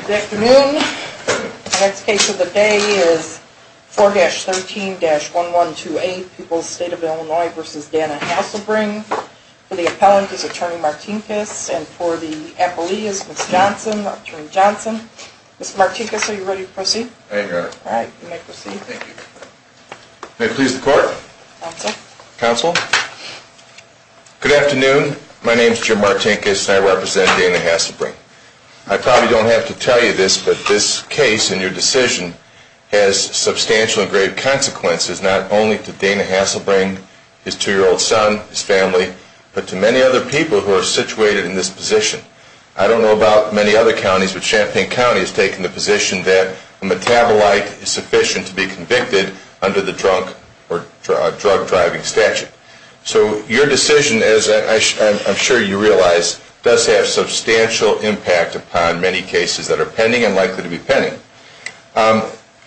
Good afternoon. The next case of the day is 4-13-1128, Pupils State of Illinois v. Dana Hasselbring. For the appellant is Attorney Martinkus and for the appellee is Ms. Johnson, Attorney Johnson. Mr. Martinkus, are you ready to proceed? I am here. Alright, you may proceed. Thank you. May it please the court? Counsel. Counsel. Good afternoon. My name is Jim Martinkus and I represent Dana Hasselbring. I probably don't have to tell you this, but this case and your decision has substantial and great consequences, not only to Dana Hasselbring, his two-year-old son, his family, but to many other people who are situated in this position. I don't know about many other counties, but Champaign County has taken the position that a metabolite is sufficient to be convicted under the drug-driving statute. So your decision, as I'm sure you realize, does have substantial impact upon many cases that are pending and likely to be pending.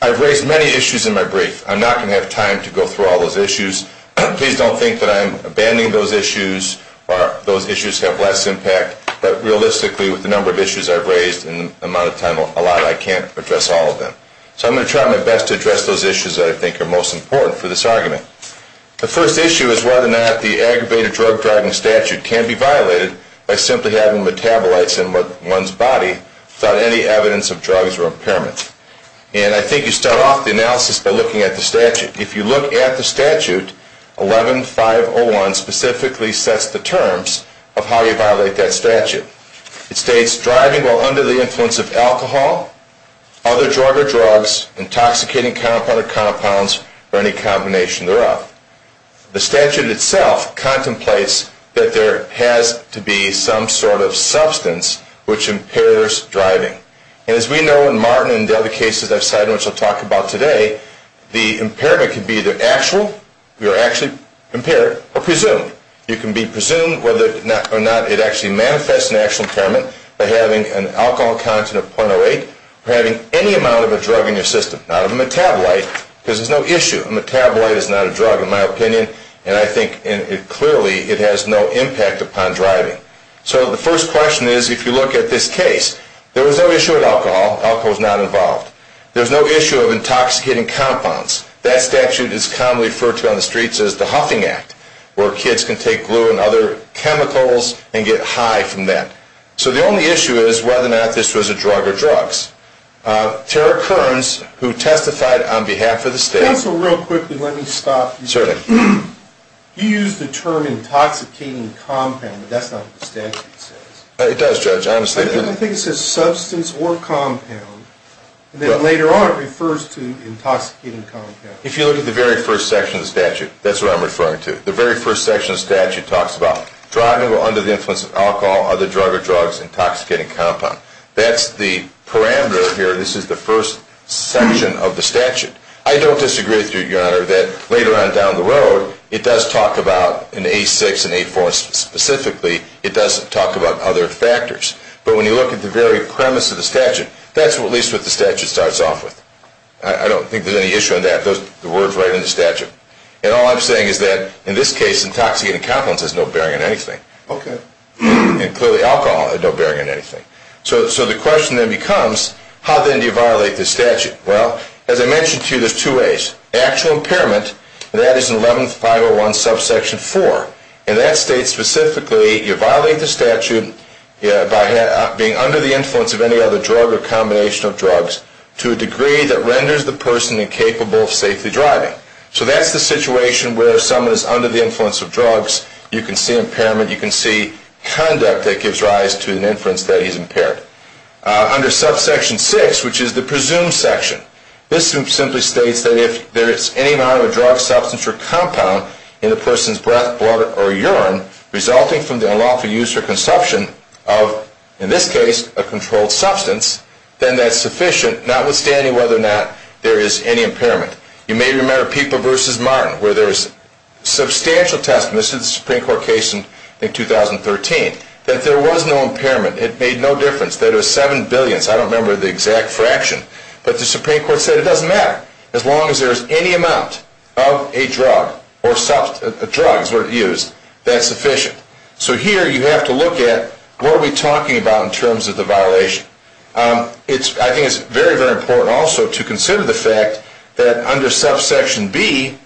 I've raised many issues in my brief. I'm not going to have time to go through all those issues. Please don't think that I'm abandoning those issues or those issues have less impact, but realistically with the number of issues I've raised and the amount of time allotted, I can't address all of them. So I'm going to try my best to address those issues that I think are most important for this argument. The first issue is whether or not the aggravated drug-driving statute can be violated by simply having metabolites in one's body without any evidence of drugs or impairment. And I think you start off the analysis by looking at the statute. If you look at the statute, 11-501 specifically sets the terms of how you violate that statute. It states, driving while under the influence of alcohol, other drug or drugs, intoxicating compound or compounds, or any combination thereof. The statute itself contemplates that there has to be some sort of substance which impairs driving. And as we know in Martin and the other cases I've cited which I'll talk about today, the impairment can be either actual, you're actually impaired, or presumed. You can be presumed whether or not it actually manifests an actual impairment by having an alcohol content of .08 or having any amount of a drug in your system, not a metabolite, because there's no issue. A metabolite is not a drug in my opinion, and I think clearly it has no impact upon driving. So the first question is, if you look at this case, there was no issue with alcohol, alcohol was not involved. There was no issue of intoxicating compounds. That statute is commonly referred to on the streets as the Huffing Act, where kids can take glue and other chemicals and get high from that. So the only issue is whether or not this was a drug or drugs. Tara Kearns, who testified on behalf of the state... Counsel, real quickly, let me stop you. Certainly. You used the term intoxicating compound, but that's not what the statute says. It does, Judge, I understand that. I think it says substance or compound, and then later on it refers to intoxicating compound. If you look at the very first section of the statute, that's what I'm referring to. The very first section of the statute talks about driving under the influence of alcohol, other drug or drugs, intoxicating compound. That's the parameter here, this is the first section of the statute. I don't disagree with you, Your Honor, that later on down the road, it does talk about, in A6 and A4 specifically, it does talk about other factors. But when you look at the very premise of the statute, that's at least what the statute starts off with. I don't think there's any issue on that. The word's right in the statute. And all I'm saying is that, in this case, intoxicating compound has no bearing on anything. Okay. And clearly alcohol had no bearing on anything. So the question then becomes, how then do you violate the statute? Well, as I mentioned to you, there's two ways. Actual impairment, and that is in 11501 subsection 4. And that states specifically, you violate the statute by being under the influence of any other drug or combination of drugs to a degree that renders the person incapable of safely driving. So that's the situation where someone is under the influence of drugs, you can see impairment, you can see conduct that gives rise to an inference that he's impaired. Under subsection 6, which is the presumed section, this simply states that if there is any amount of a drug, substance, or compound in a person's breath, blood, or urine resulting from the unlawful use or consumption of, in this case, a controlled substance, then that's sufficient, notwithstanding whether or not there is any impairment. You may remember Peeper v. Martin, where there was substantial testimony. This is a Supreme Court case in 2013. That there was no impairment. It made no difference. That it was seven billions. I don't remember the exact fraction. But the Supreme Court said it doesn't matter. As long as there is any amount of a drug, or substance, a drug is what it used, that's sufficient. So here you have to look at what are we talking about in terms of the violation. I think it's very, very important also to consider the fact that under subsection B,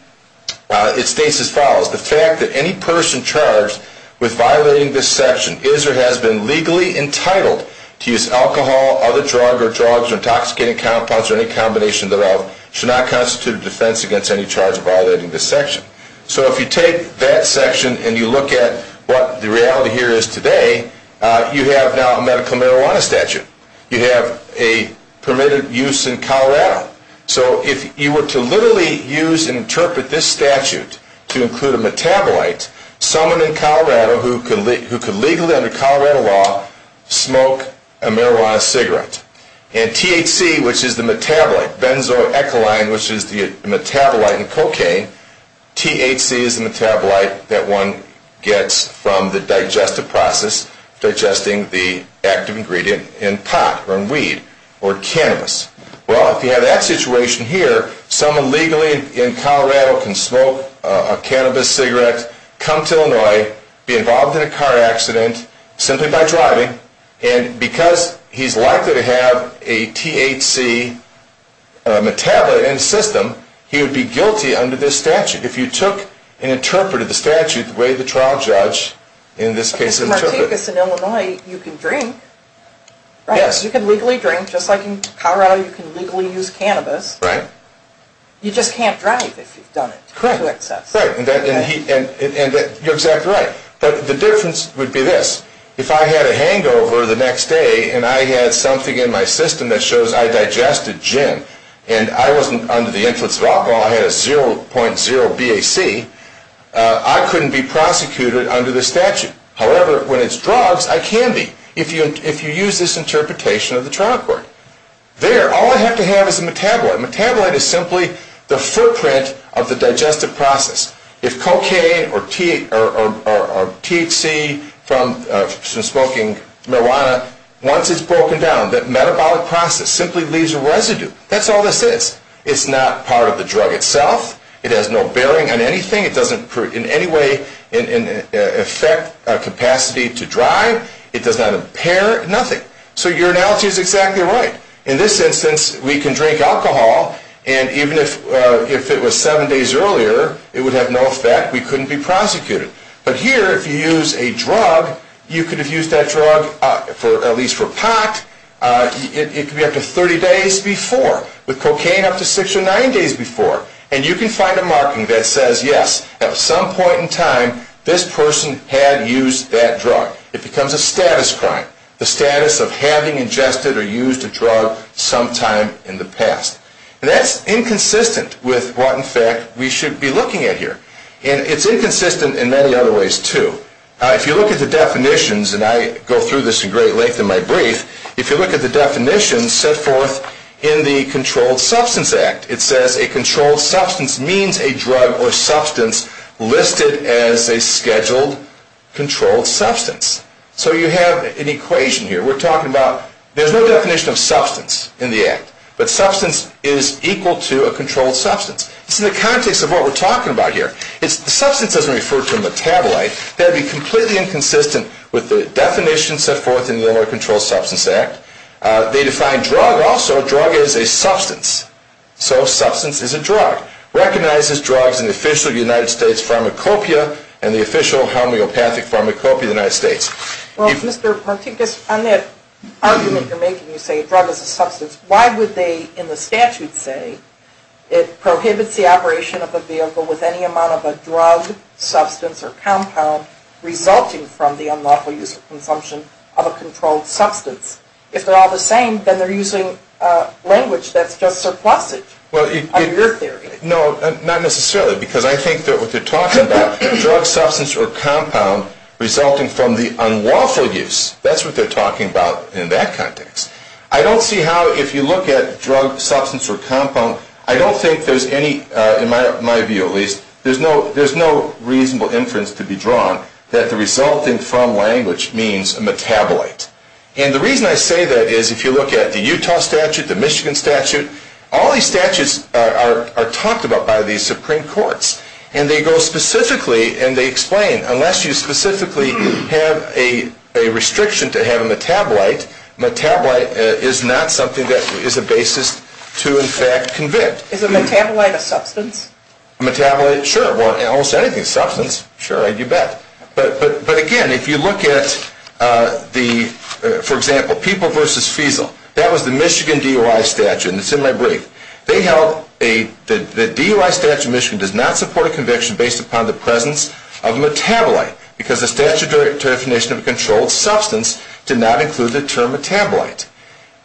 it states as follows. The fact that any person charged with violating this section is or has been legally entitled to use alcohol, other drug, or drugs, or intoxicating compounds, or any combination of the above, should not constitute a defense against any charge of violating this section. So if you take that section and you look at what the reality here is today, you have now a medical marijuana statute. You have a permitted use in Colorado. So if you were to literally use and interpret this statute to include a metabolite, someone in Colorado who could legally, under Colorado law, smoke a marijuana cigarette. And THC, which is the metabolite, benzoecoline, which is the metabolite in cocaine, THC is the metabolite that one gets from the digestive process, digesting the active ingredient in pot, or in weed, or cannabis. Well, if you have that situation here, someone legally in Colorado can smoke a cannabis cigarette, come to Illinois, be involved in a car accident, simply by driving, and because he's likely to have a THC metabolite in his system, he would be guilty under this statute. If you took and interpreted the statute the way the trial judge in this case interpreted it. Because in Illinois, you can drink. You can legally drink, just like in Colorado you can legally use cannabis. You just can't drive if you've done it to excess. You're exactly right. But the difference would be this. If I had a hangover the next day and I had something in my system that shows I digested gin, and I wasn't under the influence of alcohol, I had a 0.0 BAC, I couldn't be prosecuted under the statute. However, when it's drugs, I can be, if you use this interpretation of the trial court. There, all I have to have is a metabolite. A metabolite is simply the footprint of the digestive process. If cocaine or THC from smoking marijuana, once it's broken down, that metabolic process simply leaves a residue. That's all this is. It's not part of the drug itself. It has no bearing on anything. It doesn't in any way affect capacity to drive. It does not impair nothing. So your analogy is exactly right. In this instance, we can drink alcohol, and even if it was 7 days earlier, it would have no effect. We couldn't be prosecuted. But here, if you use a drug, you could have used that drug at least for pot. It could be up to 30 days before, with cocaine up to 6 or 9 days before. And you can find a marking that says, yes, at some point in time, this person had used that drug. It becomes a status crime. The status of having ingested or used a drug sometime in the past. And that's inconsistent with what, in fact, we should be looking at here. And it's inconsistent in many other ways too. If you look at the definitions, and I go through this in great length in my brief, if you look at the definitions set forth in the Controlled Substance Act, it says a controlled substance means a drug or substance listed as a scheduled controlled substance. So you have an equation here. We're talking about, there's no definition of substance in the Act. But substance is equal to a controlled substance. It's in the context of what we're talking about here. Substance doesn't refer to a metabolite. That would be completely inconsistent with the definitions set forth in the Illinois Controlled Substance Act. They define drug also. So a drug is a substance. So a substance is a drug. It recognizes drugs in the official United States pharmacopeia and the official homeopathic pharmacopeia of the United States. Well, Mr. Martinkus, on that argument you're making, you say a drug is a substance, why would they, in the statute, say it prohibits the operation of a vehicle with any amount of a drug, substance, or compound resulting from the unlawful use or consumption of a controlled substance? If they're all the same, then they're using language that's just surplusage under your theory. No, not necessarily, because I think that what they're talking about, drug, substance, or compound resulting from the unlawful use, that's what they're talking about in that context. I don't see how, if you look at drug, substance, or compound, I don't think there's any, in my view at least, there's no reasonable inference to be drawn that the resulting from language means a metabolite. And the reason I say that is if you look at the Utah statute, the Michigan statute, all these statutes are talked about by these Supreme Courts. And they go specifically, and they explain, unless you specifically have a restriction to have a metabolite, metabolite is not something that is a basis to in fact convict. Is a metabolite a substance? A metabolite, sure, well, almost anything is a substance, sure, you bet. But again, if you look at the, for example, People v. Fiesel, that was the Michigan DOI statute, and it's in my brief. They held that the DOI statute in Michigan does not support a conviction based upon the presence of a metabolite, because the statute of definition of a controlled substance did not include the term metabolite.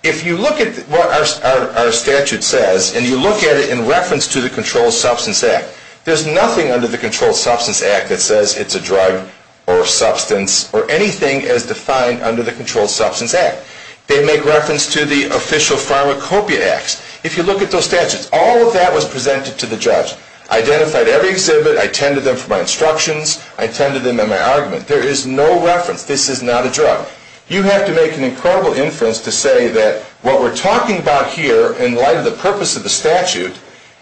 If you look at what our statute says, and you look at it in reference to the Controlled Substance Act, there's nothing under the Controlled Substance Act that says it's a drug or substance or anything as defined under the Controlled Substance Act. They make reference to the official pharmacopoeia acts. If you look at those statutes, all of that was presented to the judge. Identified every exhibit. I attended them for my instructions. I attended them in my argument. There is no reference. This is not a drug. You have to make an incredible inference to say that what we're talking about here in light of the purpose of the statute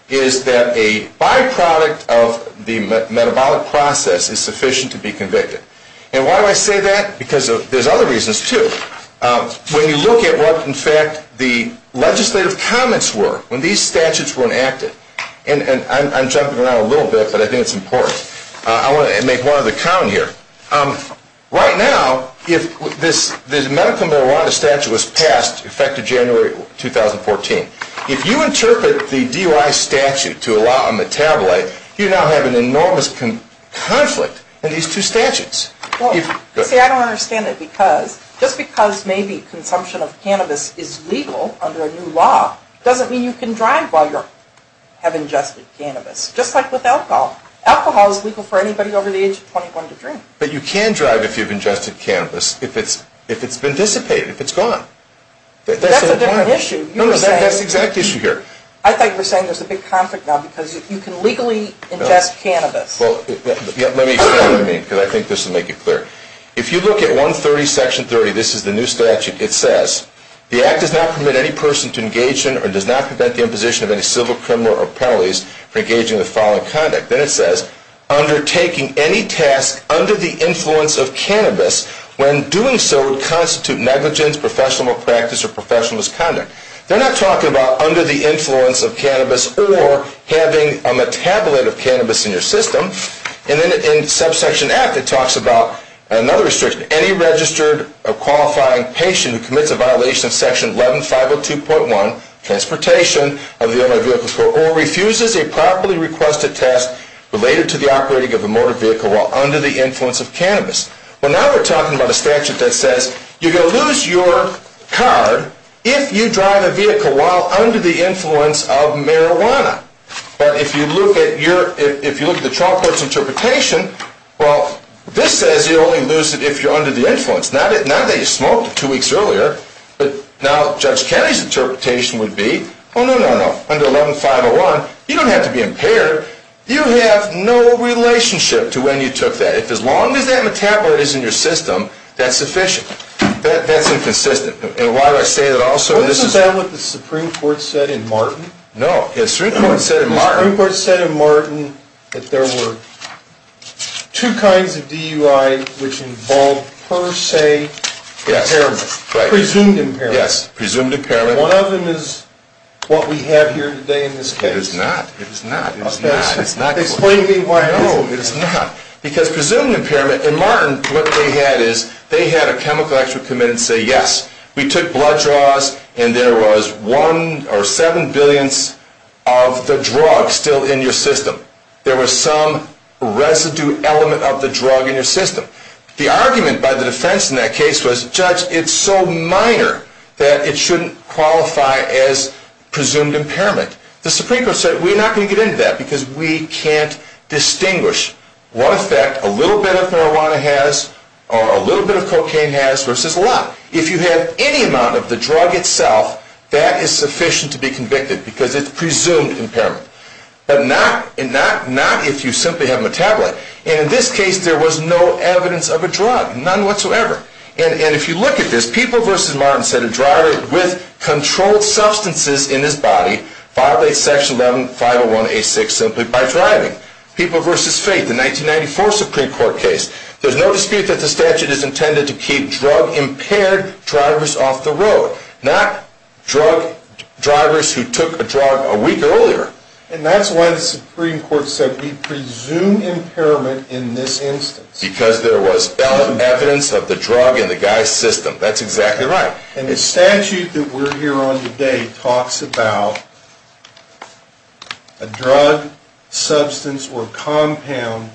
is that a byproduct of the metabolic process is sufficient to be convicted. And why do I say that? Because there's other reasons, too. When you look at what, in fact, the legislative comments were when these statutes were enacted, and I'm jumping around a little bit, but I think it's important. I want to make one other count here. Right now, if this medical marijuana statute was passed, effective January 2014, if you interpret the DUI statute to allow a metabolite, you now have an enormous conflict in these two statutes. See, I don't understand it because just because maybe consumption of cannabis is legal under a new law doesn't mean you can drive while you have ingested cannabis. Just like with alcohol. Alcohol is legal for anybody over the age of 21 to drink. But you can drive if you've ingested cannabis if it's been dissipated, if it's gone. That's a different issue. No, no, that's the exact issue here. I thought you were saying there's a big conflict now because you can legally ingest cannabis. Well, let me explain what I mean because I think this will make it clear. If you look at 130, Section 30, this is the new statute. It says, The Act does not permit any person to engage in or does not prevent the imposition of any civil criminal or penalties for engaging in the following conduct. Then it says, They're not talking about under the influence of cannabis or having a metabolite of cannabis in your system. And then in Subsection F, it talks about another restriction. It says, Well, now we're talking about a statute that says you're going to lose your car if you drive a vehicle while under the influence of marijuana. But if you look at the trial court's interpretation, well, this says you'll only lose it if you're under the influence. Not that you smoked two weeks earlier, but now Judge Kennedy's interpretation would be, oh, no, no, no. Under 11-501, you don't have to be impaired. You have no relationship to when you took that. If as long as that metabolite is in your system, that's sufficient. That's inconsistent. And why do I say that also? Isn't that what the Supreme Court said in Martin? No. Yes. Presumed impairment. Yes. Presumed impairment. One of them is what we have here today in this case. It is not. It is not. It is not. Explain to me why. No, it is not. Because presumed impairment, in Martin, what they had is they had a chemical expert come in and say, yes, we took blood draws and there was one or seven billionths of the drug still in your system. There was some residue element of the drug in your system. The argument by the defense in that case was, judge, it's so minor that it shouldn't qualify as presumed impairment. The Supreme Court said we're not going to get into that because we can't distinguish what effect a little bit of marijuana has or a little bit of cocaine has versus a lot. If you have any amount of the drug itself, that is sufficient to be convicted because it's presumed impairment. But not if you simply have a metabolite. And in this case, there was no evidence of a drug. None whatsoever. And if you look at this, People v. Martin said a driver with controlled substances in his body violated Section 11501A6 simply by driving. People v. Faith, the 1994 Supreme Court case, there's no dispute that the statute is intended to keep drug-impaired drivers off the road, not drug drivers who took a drug a week earlier. And that's why the Supreme Court said we presume impairment in this instance. Because there was no evidence of the drug in the guy's system. That's exactly right. And the statute that we're here on today talks about a drug, substance, or compound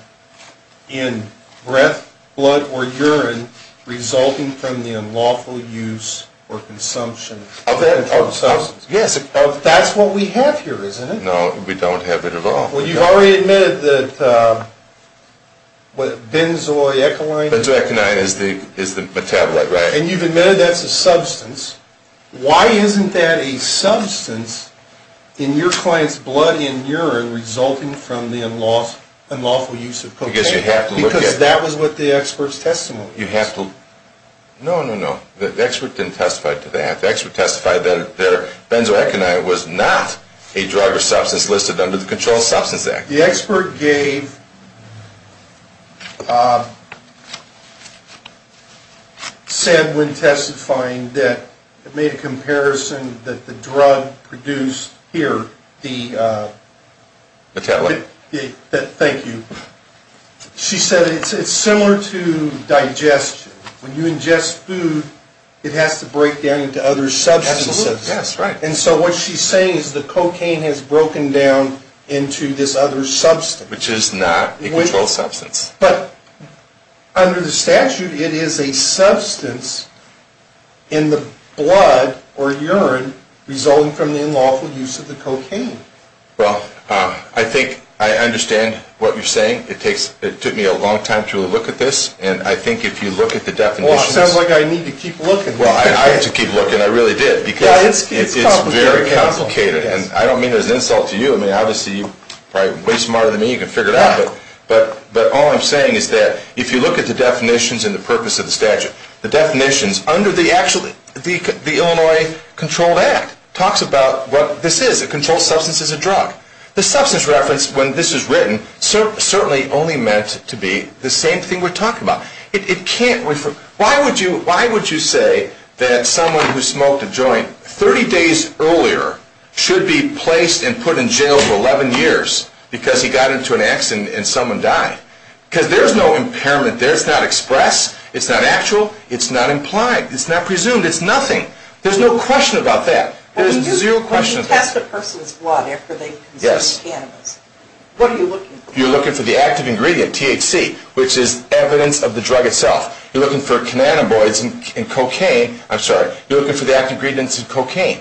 in breath, blood, or urine resulting from the unlawful use or consumption of controlled substances. Yes. That's what we have here, isn't it? No, we don't have it at all. Well, you've already admitted that benzoyecoline is the metabolite, right? And you've admitted that's a substance. Why isn't that a substance in your client's blood and urine resulting from the unlawful use of cocaine? Because you have to look at it. Because that was what the expert's testimony is. No, no, no. The expert didn't testify to that. The expert testified that benzoyecoline was not a drug or substance listed under the Controlled Substance Act. The expert said when testifying that it made a comparison that the drug produced here, the metabolite. Thank you. She said it's similar to digestion. When you ingest food, it has to break down into other substances. Absolutely. Yes, right. And so what she's saying is the cocaine has broken down into this other substance. Which is not a controlled substance. But under the statute, it is a substance in the blood or urine resulting from the unlawful use of the cocaine. Well, I think I understand what you're saying. It took me a long time to look at this. And I think if you look at the definitions. Well, it sounds like I need to keep looking. Well, I have to keep looking. I really did. Because it's very complicated. And I don't mean it as an insult to you. I mean, obviously, you're probably way smarter than me. You can figure it out. But all I'm saying is that if you look at the definitions and the purpose of the statute, the definitions under the Illinois Controlled Act talks about what this is. It controls substance as a drug. The substance reference when this is written certainly only meant to be the same thing we're talking about. Why would you say that someone who smoked a joint 30 days earlier should be placed and put in jail for 11 years because he got into an accident and someone died? Because there's no impairment there. It's not expressed. It's not actual. It's not implied. It's not presumed. It's nothing. There's no question about that. When you test a person's blood after they've consumed cannabis, what are you looking for? You're looking for the active ingredient, THC, which is evidence of the drug itself. You're looking for cannabinoids in cocaine. I'm sorry. You're looking for the active ingredient in cocaine.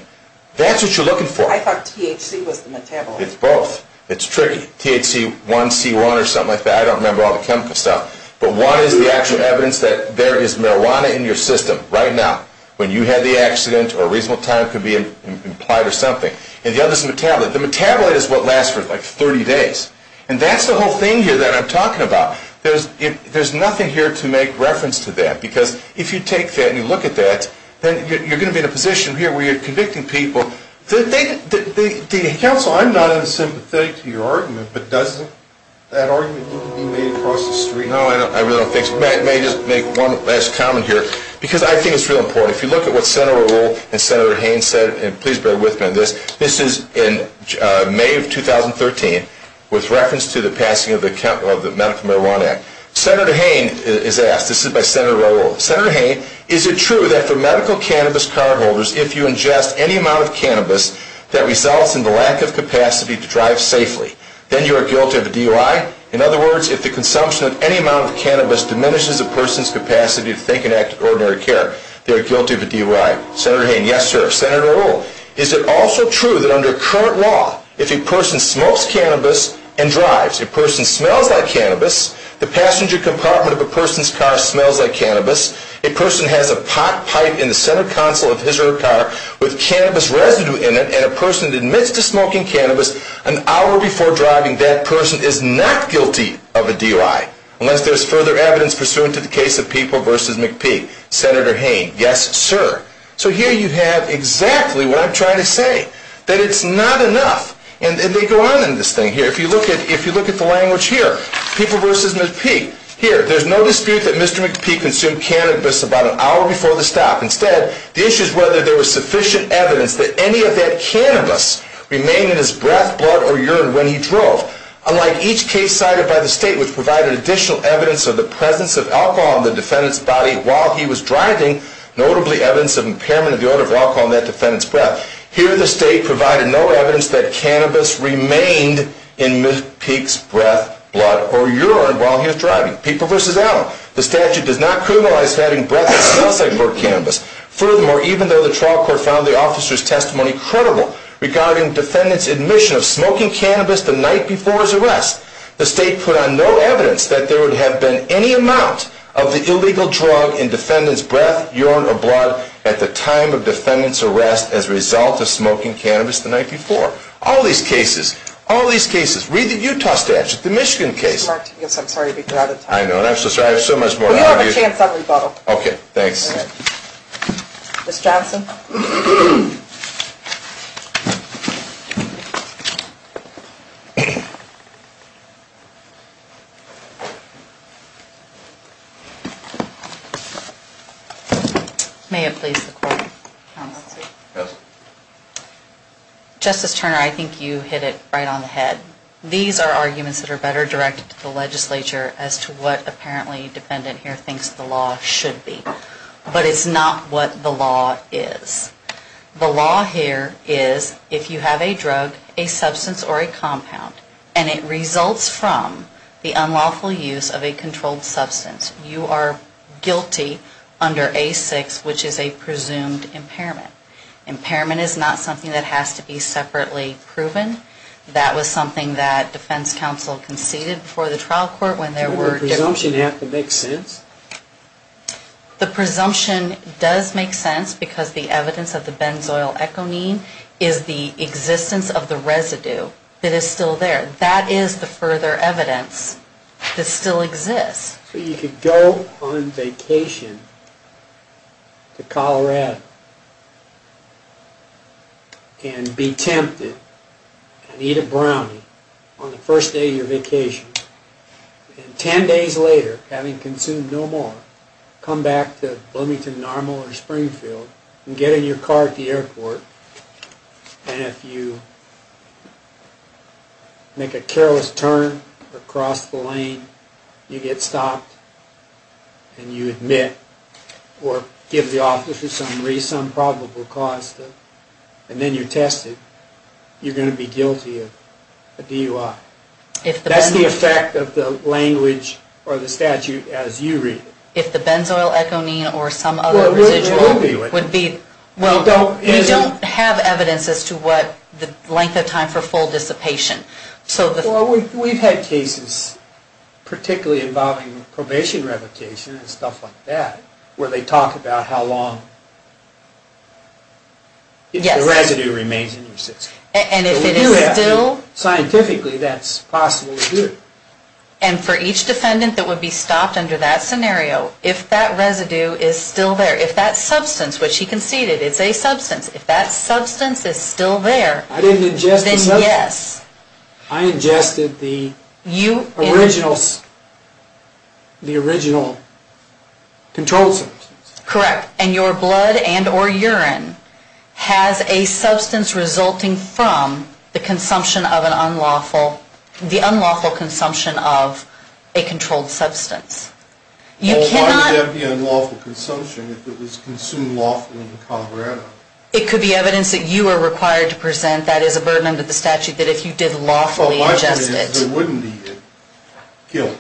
That's what you're looking for. I thought THC was the metabolite. It's both. It's tricky. THC1C1 or something like that. I don't remember all the chemical stuff. But one is the actual evidence that there is marijuana in your system right now. When you had the accident or a reasonable time could be implied or something. And the other is the metabolite. The metabolite is what lasts for like 30 days. And that's the whole thing here that I'm talking about. There's nothing here to make reference to that. Because if you take that and you look at that, then you're going to be in a position here where you're convicting people. Counsel, I'm not unsympathetic to your argument, but doesn't that argument need to be made across the street? No, I really don't think so. May I just make one last comment here? Because I think it's real important. If you look at what Senator O'Rourke and Senator Haynes said, and please bear with me on this, this is in May of 2013 with reference to the passing of the Medical Marijuana Act. Senator Haynes is asked, this is by Senator O'Rourke, Senator Haynes, is it true that for medical cannabis cardholders, if you ingest any amount of cannabis that results in the lack of capacity to drive safely, then you are guilty of a DUI? In other words, if the consumption of any amount of cannabis diminishes a person's capacity to think and act in ordinary care, they are guilty of a DUI. Senator Haynes, yes sir. Senator O'Rourke, is it also true that under current law, if a person smokes cannabis and drives, a person smells like cannabis, the passenger compartment of a person's car smells like cannabis, a person has a pot pipe in the center console of his or her car with cannabis residue in it, and a person admits to smoking cannabis an hour before driving, that person is not guilty of a DUI. Unless there is further evidence pursuant to the case of People v. McPee. Senator Haynes, yes sir. So here you have exactly what I'm trying to say, that it's not enough. And they go on in this thing here. If you look at the language here, People v. McPee, here, there's no dispute that Mr. McPee consumed cannabis about an hour before the stop. Instead, the issue is whether there was sufficient evidence that any of that cannabis remained in his breath, blood, or urine when he drove. Unlike each case cited by the state which provided additional evidence of the presence of alcohol in the defendant's body while he was driving, notably evidence of impairment of the odor of alcohol in that defendant's breath, here the state provided no evidence that cannabis remained in Mr. McPee's breath, blood, or urine while he was driving. People v. Allen, the statute does not criminalize having breath that smells like cannabis. Furthermore, even though the trial court found the officer's testimony credible regarding the defendant's admission of smoking cannabis the night before his arrest, the state put on no evidence that there would have been any amount of the illegal drug in the defendant's breath, urine, or blood at the time of the defendant's arrest as a result of smoking cannabis the night before. All these cases, all these cases, read the Utah statute, the Michigan case. Mr. Martinez, I'm sorry to be out of time. I know, and I'm so sorry, I have so much more to argue. Well, you have a chance of rebuttal. Okay, thanks. Ms. Johnson. May it please the court, counsel? Yes. Justice Turner, I think you hit it right on the head. These are arguments that are better directed to the legislature as to what apparently the defendant here thinks the law should be. It's not what the law is. The law here is if you have a drug, a substance, or a compound, and it results from the unlawful use of a controlled substance, you are guilty under A6, which is a presumed impairment. Impairment is not something that has to be separately proven. That was something that defense counsel conceded before the trial court when there were different... Doesn't the presumption have to make sense? The presumption does make sense because the evidence of the benzoyl econeme is the existence of the residue that is still there. That is the further evidence that still exists. So you could go on vacation to Colorado and be tempted and eat a brownie on the first day of your vacation, and 10 days later, having consumed no more, come back to Bloomington Normal or Springfield and get in your car at the airport, and if you make a careless turn across the lane, you get stopped, and you admit or give the officer some reasonable probable cause, and then you're tested, you're going to be guilty of DUI. That's the effect of the language or the statute as you read it. If the benzoyl econeme or some other residual would be... We don't have evidence as to the length of time for full dissipation. We've had cases, particularly involving probation revocation and stuff like that, where they talk about how long the residue remains in your system. And if it is still... Scientifically, that's possible to do. And for each defendant that would be stopped under that scenario, if that residue is still there, if that substance, which he conceded it's a substance, if that substance is still there... I didn't ingest the substance. Then yes. I ingested the original controlled substance. Correct. And your blood and or urine has a substance resulting from the consumption of an unlawful... the unlawful consumption of a controlled substance. Why would that be unlawful consumption if it was consumed lawfully in Colorado? It could be evidence that you were required to present that is a burden under the statute, that if you did lawfully ingest it. My point is there wouldn't be guilt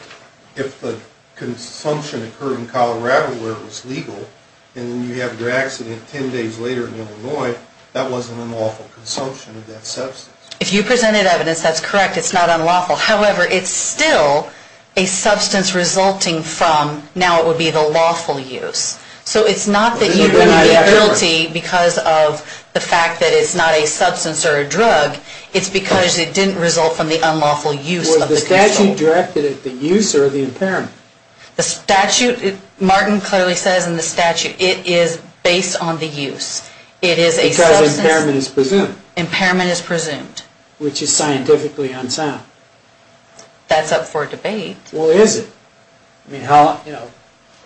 if the consumption occurred in Colorado where it was legal and then you have your accident 10 days later in Illinois, that wasn't unlawful consumption of that substance. If you presented evidence, that's correct. It's not unlawful. However, it's still a substance resulting from, now it would be the lawful use. So it's not that you would be guilty because of the fact that it's not a substance or a drug. It's because it didn't result from the unlawful use of the... Is the statute directed at the use or the impairment? The statute, Martin clearly says in the statute, it is based on the use. It is a substance... Because impairment is presumed. Impairment is presumed. Which is scientifically unsound. That's up for debate. Well, is it?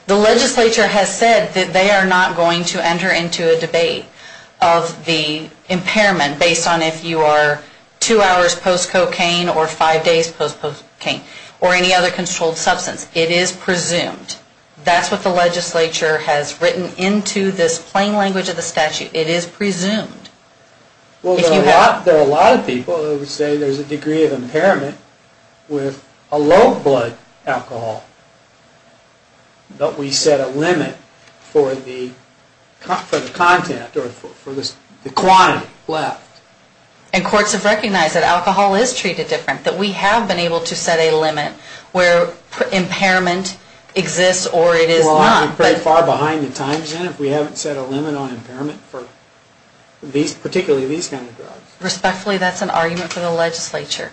The legislature has said that they are not going to enter into a debate of the impairment based on if you are two hours post-cocaine or five days post-cocaine or any other controlled substance. It is presumed. That's what the legislature has written into this plain language of the statute. It is presumed. Well, there are a lot of people who would say there's a degree of impairment with a low blood alcohol. But we set a limit for the content or for the quantity left. And courts have recognized that alcohol is treated different. That we have been able to set a limit where impairment exists or it is not. Well, I'm pretty far behind the times, then, if we haven't set a limit on impairment for particularly these kind of drugs. Respectfully, that's an argument for the legislature.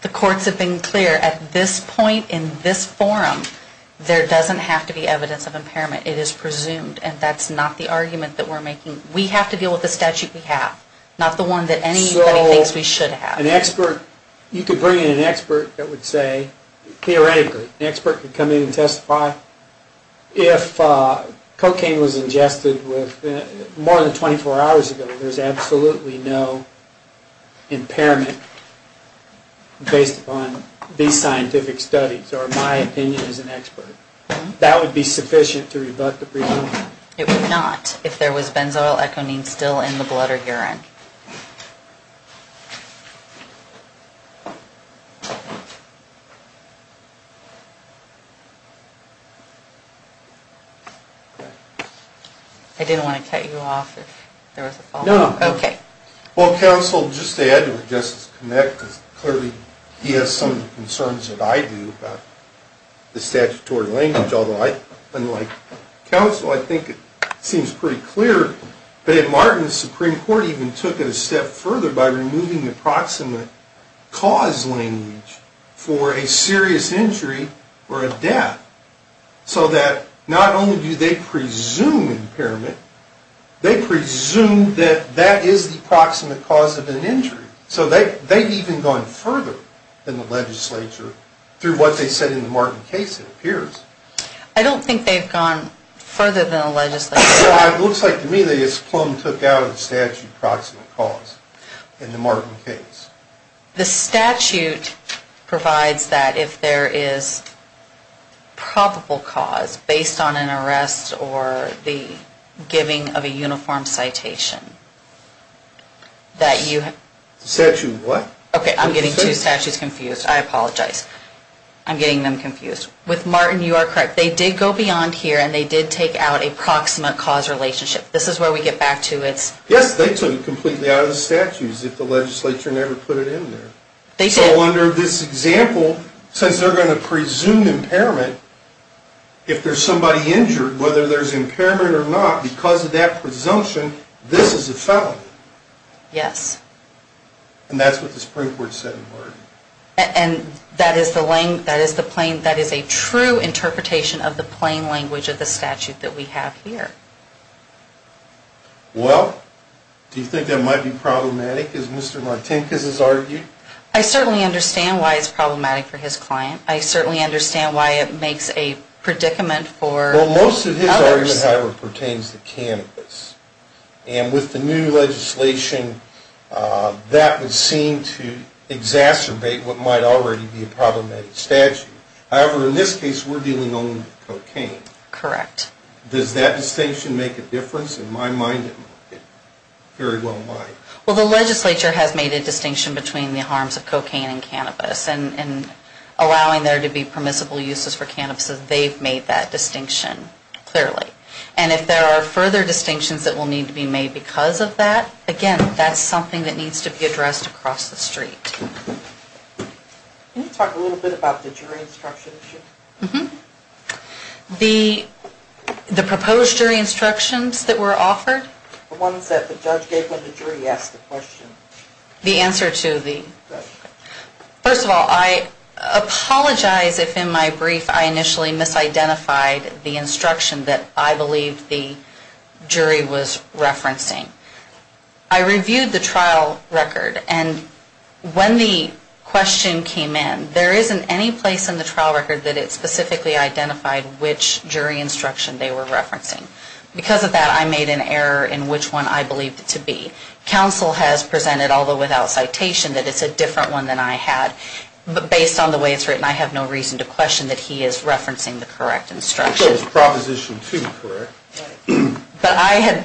The courts have been clear at this point in this forum, there doesn't have to be evidence of impairment. It is presumed. And that's not the argument that we're making. We have to deal with the statute we have. Not the one that anybody thinks we should have. So an expert, you could bring in an expert that would say, theoretically, an expert could come in and testify, if cocaine was ingested more than 24 hours ago, there's absolutely no impairment based upon these scientific studies or my opinion as an expert. That would be sufficient to rebut the presumption. It would not, if there was benzoyl econeme still in the blood or urine. I didn't want to cut you off if there was a follow-up. No. Okay. Well, counsel, just to add to it, just to connect, because clearly he has some of the concerns that I do about the statutory language. Although, unlike counsel, I think it seems pretty clear that in Martin, the Supreme Court even took it a step further by removing the proximate cause language for a serious injury or a death. So that not only do they presume impairment, they presume that that is the proximate cause of an injury. So they've even gone further than the legislature through what they said in the Martin case, it appears. I don't think they've gone further than the legislature. Well, it looks like to me they just plumb took out the statute proximate cause in the Martin case. The statute provides that if there is probable cause based on an arrest or the giving of a uniform citation that you have... Statute what? Okay, I'm getting two statutes confused. I apologize. I'm getting them confused. With Martin, you are correct. They did go beyond here and they did take out a proximate cause relationship. This is where we get back to its... Yes, they took it completely out of the statutes if the legislature never put it in there. They did. So under this example, since they're going to presume impairment, if there's somebody injured, whether there's impairment or not, because of that presumption, this is a felony. Yes. And that's what the Supreme Court said in Martin. And that is a true interpretation of the plain language of the statute that we have here. Well, do you think that might be problematic as Mr. Martinkus has argued? I certainly understand why it's problematic for his client. I certainly understand why it makes a predicament for others. Well, most of his argument, however, pertains to cannabis. And with the new legislation, that would seem to exacerbate what might already be a problematic statute. However, in this case, we're dealing only with cocaine. Correct. Does that distinction make a difference? In my mind, it very well might. Well, the legislature has made a distinction between the harms of cocaine and cannabis and allowing there to be permissible uses for cannabis, they've made that distinction clearly. And if there are further distinctions that will need to be made because of that, again, that's something that needs to be addressed across the street. Can you talk a little bit about the jury instruction issue? Mm-hmm. The proposed jury instructions that were offered? The ones that the judge gave when the jury asked the question. The answer to the... Correct. First of all, I apologize if in my brief I initially misidentified the instruction that I believed the jury was referencing. I reviewed the trial record, and when the question came in, there isn't any place in the trial record that it specifically identified which jury instruction they were referencing. Because of that, I made an error in which one I believed it to be. Counsel has presented, although without citation, that it's a different one than I had. But based on the way it's written, I have no reason to question that he is referencing the correct instruction. So it's Proposition 2, correct? But I had...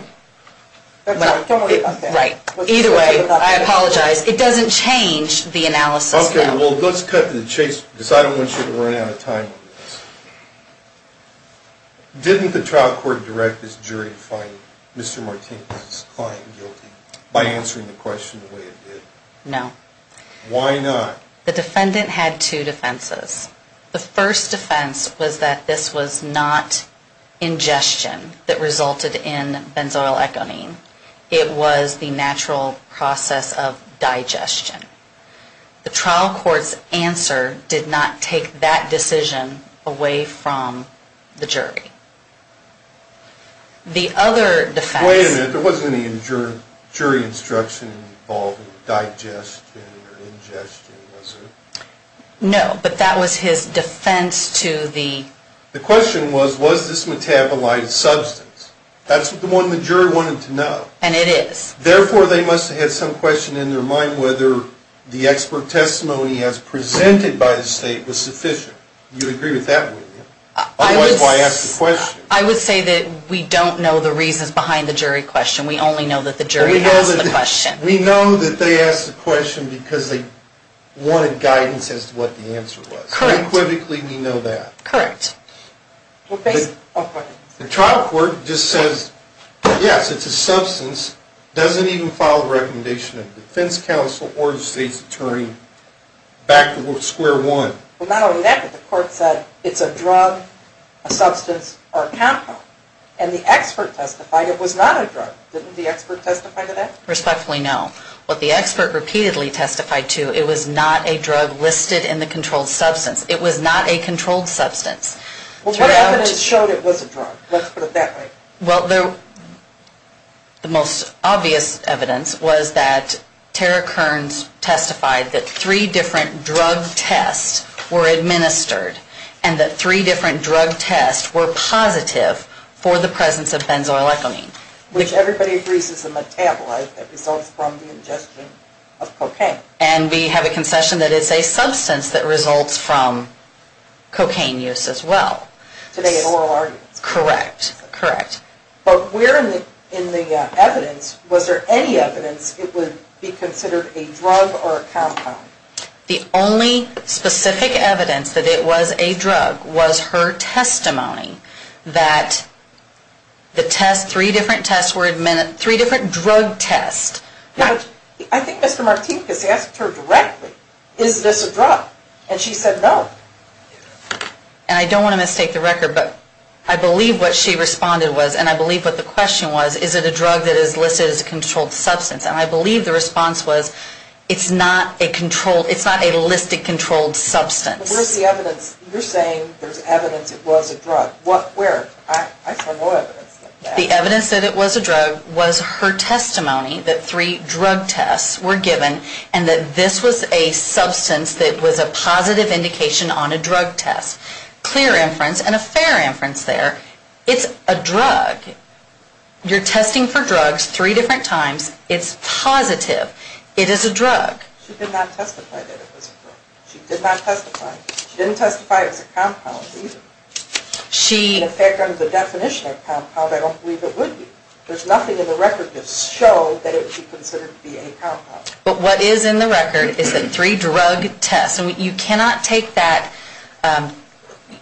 Don't worry about that. Right. Either way, I apologize. It doesn't change the analysis. Okay. Well, let's cut to the chase because I don't want you to run out of time on this. Didn't the trial court direct this jury to find Mr. Martinez's client guilty by answering the question the way it did? No. Why not? The defendant had two defenses. The first defense was that this was not ingestion that resulted in benzoyl echonine. It was the natural process of digestion. The trial court's answer did not take that decision away from the jury. The other defense... Wait a minute. There wasn't any jury instruction involving digestion or ingestion, was there? No, but that was his defense to the... The question was, was this metabolized substance? That's the one the jury wanted to know. And it is. Therefore, they must have had some question in their mind whether the expert testimony as presented by the state was sufficient. Do you agree with that, William? Otherwise, why ask the question? I would say that we don't know the reasons behind the jury question. We only know that the jury asked the question. We know that they asked the question because they wanted guidance as to what the answer was. Equivocally, we know that. Correct. The trial court just says, yes, it's a substance, doesn't even follow the recommendation of the defense counsel or the state's attorney back to square one. Not only that, but the court said it's a drug, a substance, or a compound. And the expert testified it was not a drug. Didn't the expert testify to that? Respectfully, no. What the expert repeatedly testified to, it was not a drug listed in the controlled substance. It was not a controlled substance. Well, what evidence showed it was a drug? Let's put it that way. Well, the most obvious evidence was that Tara Kearns testified that three different drug tests were administered and that three different drug tests were positive for the presence of benzoylecholine. Which everybody agrees is a metabolite that results from the ingestion of cocaine. And we have a concession that it's a substance that results from cocaine use as well. Today in oral arguments. Correct, correct. But where in the evidence, was there any evidence it would be considered a drug or a compound? The only specific evidence that it was a drug was her testimony that the test, three different tests were administered, three different drug tests. I think Mr. Martinkus asked her directly, is this a drug? And she said no. And I don't want to mistake the record, but I believe what she responded was, and I believe what the question was, is it a drug that is listed as a controlled substance? And I believe the response was, it's not a controlled, it's not a listed controlled substance. Where's the evidence? You're saying there's evidence it was a drug. Where? I have no evidence. The evidence that it was a drug was her testimony that three drug tests were given and that this was a substance that was a positive indication on a drug test. Clear inference and a fair inference there. It's a drug. You're testing for drugs three different times. It's positive. It is a drug. She did not testify that it was a drug. She did not testify. She didn't testify it was a compound either. In fact, under the definition of a compound, I don't believe it would be. There's nothing in the record that showed that it would be considered to be a compound. But what is in the record is that three drug tests, and you cannot take that,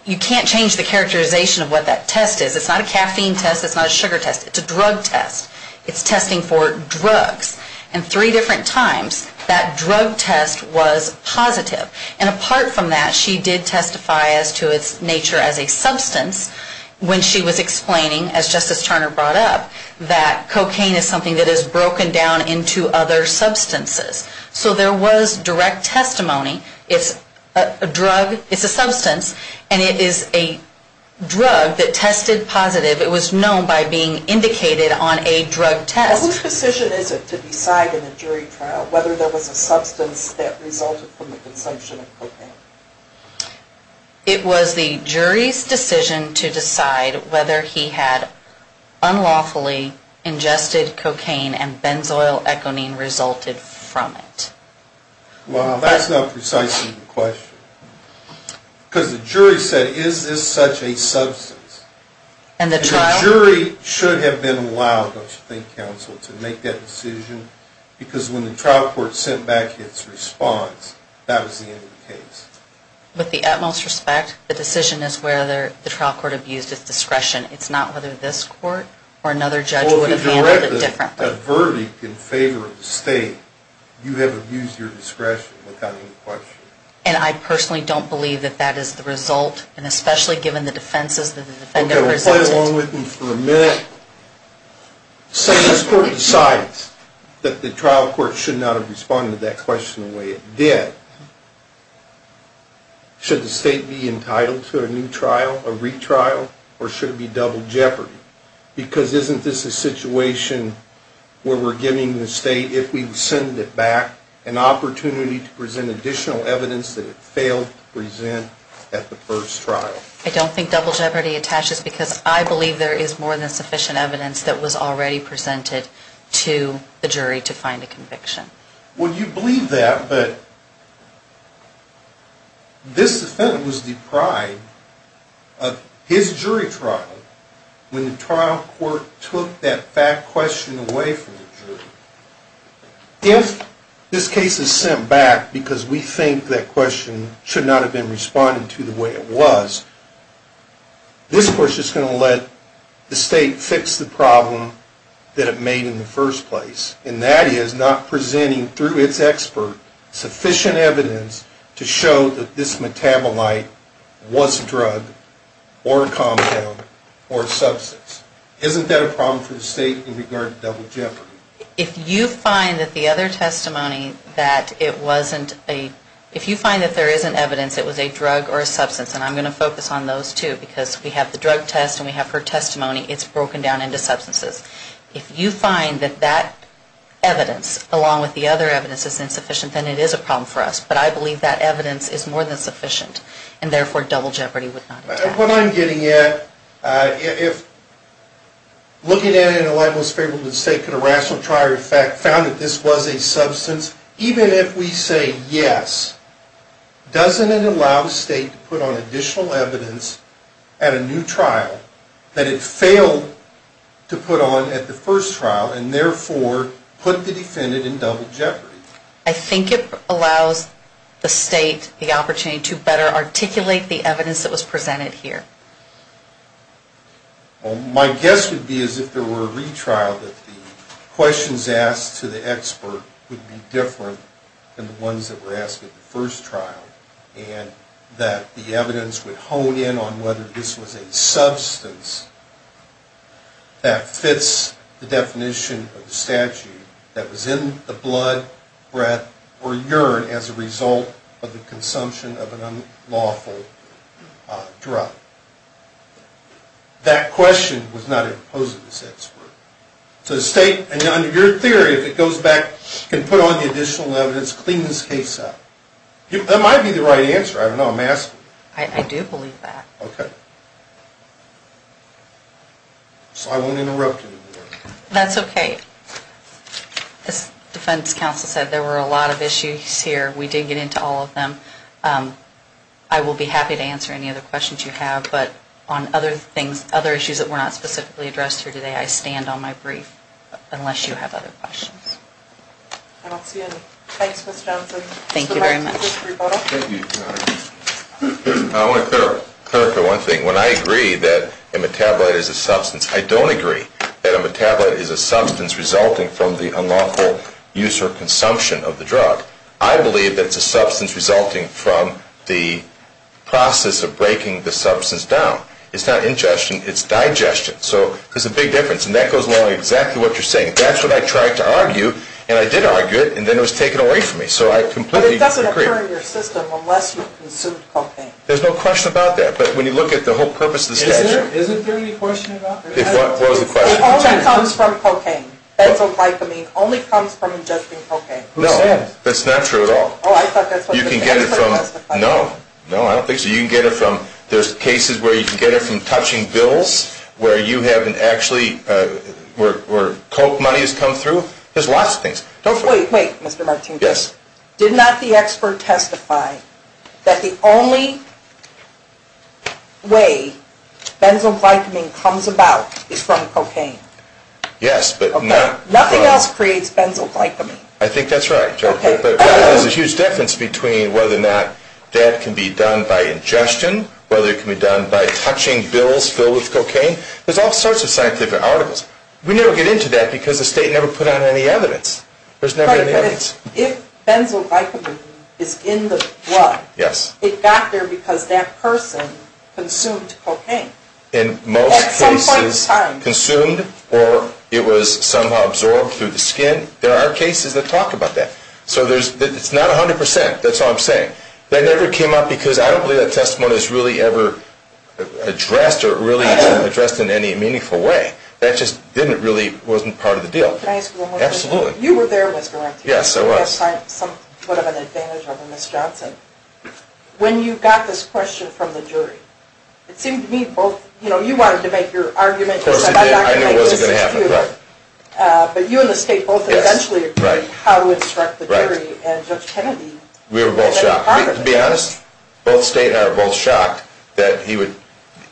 you can't change the characterization of what that test is. It's not a caffeine test. It's not a sugar test. It's a drug test. It's testing for drugs. And three different times that drug test was positive. And apart from that, she did testify as to its nature as a substance when she was explaining, as Justice Turner brought up, that cocaine is something that is broken down into other substances. So there was direct testimony. It's a drug. It's a substance. And it is a drug that tested positive. It was known by being indicated on a drug test. What decision is it to decide in a jury trial whether there was a substance that resulted from the consumption of cocaine? It was the jury's decision to decide whether he had unlawfully ingested cocaine and benzoyl econine resulted from it. Well, that's not precisely the question. Because the jury said, is this such a substance? And the jury should have been allowed, don't you think, Counsel, to make that decision because when the trial court sent back its response, that was the end of the case. With the utmost respect, the decision is whether the trial court abused its discretion. It's not whether this court or another judge would have handled it differently. If there is a verdict in favor of the state, you have abused your discretion without any question. And I personally don't believe that that is the result, and especially given the defenses that the defendant presented. Okay, well, play along with me for a minute. Say this court decides that the trial court should not have responded to that question the way it did, should the state be entitled to a new trial, a retrial, or should it be double jeopardy? Because isn't this a situation where we're giving the state, if we send it back, an opportunity to present additional evidence that it failed to present at the first trial? I don't think double jeopardy attaches because I believe there is more than sufficient evidence that was already presented to the jury to find a conviction. Well, you believe that, but this defendant was deprived of his jury trial when the trial court took that fact question away from the jury. If this case is sent back because we think that question should not have been responded to the way it was, this court's just going to let the state fix the problem that it made in the first place, and that is not presenting through its expert sufficient evidence to show that this metabolite was a drug or a compound or a substance. Isn't that a problem for the state in regard to double jeopardy? If you find that the other testimony that it wasn't a, if you find that there isn't evidence it was a drug or a substance, and I'm going to focus on those two because we have the drug test and we have her testimony, it's broken down into substances. If you find that that evidence, along with the other evidence, is insufficient, then it is a problem for us. But I believe that evidence is more than sufficient, and therefore double jeopardy would not attack. What I'm getting at, if looking at it in the light most favorable to the state, could a rational trial found that this was a substance, even if we say yes, doesn't it allow the state to put on additional evidence at a new trial that it failed to put on at the first trial, and therefore put the defendant in double jeopardy? I think it allows the state the opportunity to better articulate the evidence that was presented here. Well, my guess would be as if there were a retrial that the questions asked to the expert would be different than the ones that were asked at the first trial, and that the evidence would hone in on whether this was a substance that fits the definition of the statute that was in the blood, breath, or urine as a result of the consumption of an unlawful drug. That question was not imposed on this expert. So the state, under your theory, if it goes back and put on the additional evidence, clean this case up. That might be the right answer. I don't know. I'm asking. I do believe that. Okay. So I won't interrupt anymore. That's okay. As defense counsel said, there were a lot of issues here. We did get into all of them. I will be happy to answer any other questions you have, but on other issues that were not specifically addressed here today, I stand on my brief, unless you have other questions. I don't see any. Thanks, Ms. Johnson. Thank you very much. I want to clarify one thing. When I agree that a metabolite is a substance, I don't agree that a metabolite is a substance resulting from the unlawful use or consumption of the drug. I believe that it's a substance resulting from the process of breaking the substance down. It's not ingestion. It's digestion. So there's a big difference, and that goes along with exactly what you're saying. That's what I tried to argue, and I did argue it, and then it was taken away from me. So I completely agree. But it doesn't occur in your system unless you've consumed cocaine. There's no question about that. But when you look at the whole purpose of the statute. Isn't there any question about that? What was the question? It only comes from cocaine. Benzoylglycamine only comes from ingesting cocaine. Who says? That's not true at all. Oh, I thought that's what the statute said. No. No, I don't think so. You can get it from, there's cases where you can get it from touching bills, where you haven't actually, where coke money has come through. There's lots of things. Wait, wait, Mr. Martinez. Yes. Did not the expert testify that the only way benzoylglycamine comes about is from cocaine? Yes, but not. Nothing else creates benzoylglycamine. I think that's right. But there's a huge difference between whether or not that can be done by ingestion, whether it can be done by touching bills filled with cocaine. There's all sorts of scientific articles. We never get into that because the state never put out any evidence. There's never any evidence. But if benzoylglycamine is in the blood, it got there because that person consumed cocaine. At some point in time. In most cases, consumed or it was somehow absorbed through the skin. There are cases that talk about that. So it's not 100%. That's all I'm saying. That never came up because I don't believe that testimony is really ever addressed or really addressed in any meaningful way. That just really wasn't part of the deal. Can I ask you one more question? Absolutely. You were there, Mr. Rankin. Yes, I was. You had some sort of an advantage over Ms. Johnson. When you got this question from the jury, it seemed to me both, you know, you wanted to make your argument. Of course I did. I knew what was going to happen. But you and the state both eventually agreed how to instruct the jury and Judge Kennedy. We were both shocked. To be honest, both state and I were both shocked that he would.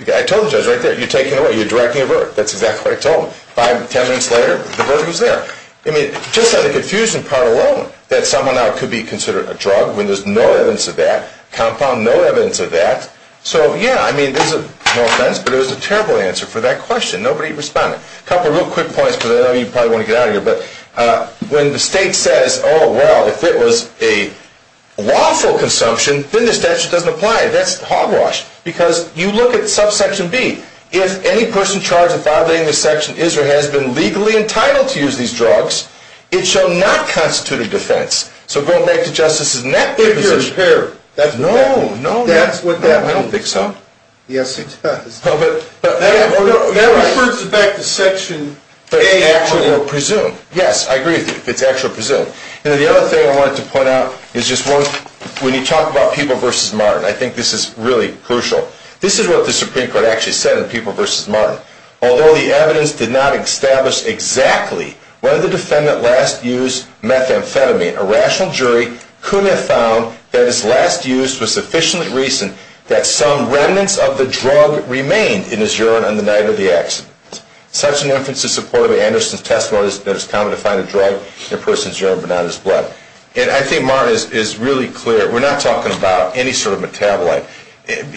I told the judge right there, you're taking away, you're directing a verdict. That's exactly what I told him. Five, ten minutes later, the verdict was there. I mean, just on the confusion part alone, that someone could be considered a drug when there's no evidence of that, compound no evidence of that. So, yeah, I mean, no offense, but it was a terrible answer for that question. Nobody responded. A couple of real quick points because I know you probably want to get out of here. But when the state says, oh, well, if it was a lawful consumption, then the statute doesn't apply. That's hogwash because you look at subsection B. If any person charged with violating this section is or has been legally entitled to use these drugs, it shall not constitute a defense. So go back to Justice's net position. If you're impaired. No, no. That's what that means. I don't think so. Yes, it does. That refers back to section A. But it's actually presumed. Yes, I agree with you. It's actually presumed. And the other thing I wanted to point out is just one, when you talk about people versus modern, I think this is really crucial. This is what the Supreme Court actually said in people versus modern. Although the evidence did not establish exactly whether the defendant last used methamphetamine, a rational jury could have found that his last use was sufficiently recent that some remnants of the drug remained in his urine on the night of the accident. Such an inference is supported by Anderson's testimony that it's common to find a drug in a person's urine but not in his blood. And I think Martin is really clear. We're not talking about any sort of metabolite.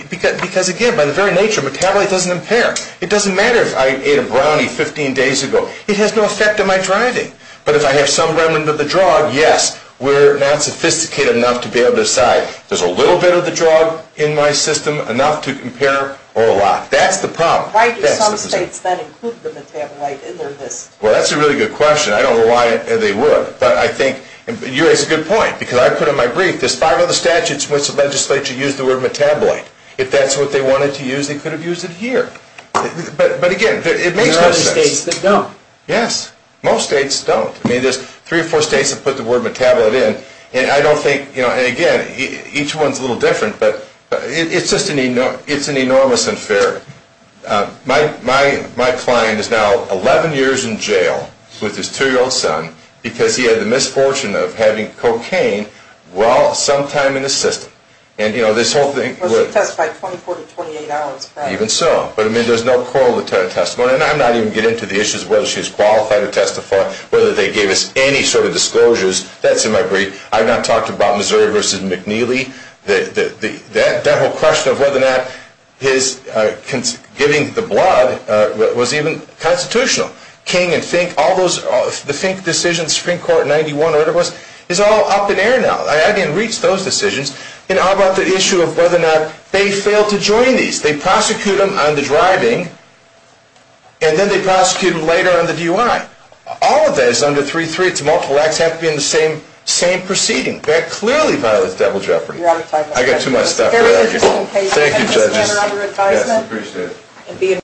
Because, again, by the very nature, metabolite doesn't impair. It doesn't matter if I ate a brownie 15 days ago. It has no effect on my driving. But if I have some remnant of the drug, yes, we're not sophisticated enough to be able to decide. There's a little bit of the drug in my system, enough to impair or a lot. That's the problem. Why do some states then include the metabolite in their list? Well, that's a really good question. I don't know why they would. But I think you raise a good point. Because I put in my brief, there's five other statutes in which the legislature used the word metabolite. If that's what they wanted to use, they could have used it here. But, again, it makes no sense. There are other states that don't. Yes. Most states don't. I mean, there's three or four states that put the word metabolite in. And I don't think, you know, and, again, each one's a little different. But it's just an enormous inferiority. My client is now 11 years in jail with his 2-year-old son because he had the misfortune of having cocaine, well, sometime in his system. And, you know, this whole thing. Well, she testified 24 to 28 hours back. Even so. But, I mean, there's no corollary to her testimony. And I'm not even getting into the issues of whether she's qualified to testify, whether they gave us any sort of disclosures. That's in my brief. I've not talked about Missouri v. McNeely. That whole question of whether or not his giving the blood was even constitutional. King and Fink. All those. The Fink decision, Supreme Court, 91, whatever it was, is all up in air now. I haven't even reached those decisions. And how about the issue of whether or not they failed to join these? They prosecute them on the driving. And then they prosecute them later on the DUI. All of that is under 3-3. It's multiple acts. They have to be in the same proceeding. That clearly violates devil's jeopardy. I've got too much stuff. Thank you, judges. Yes. Appreciate it.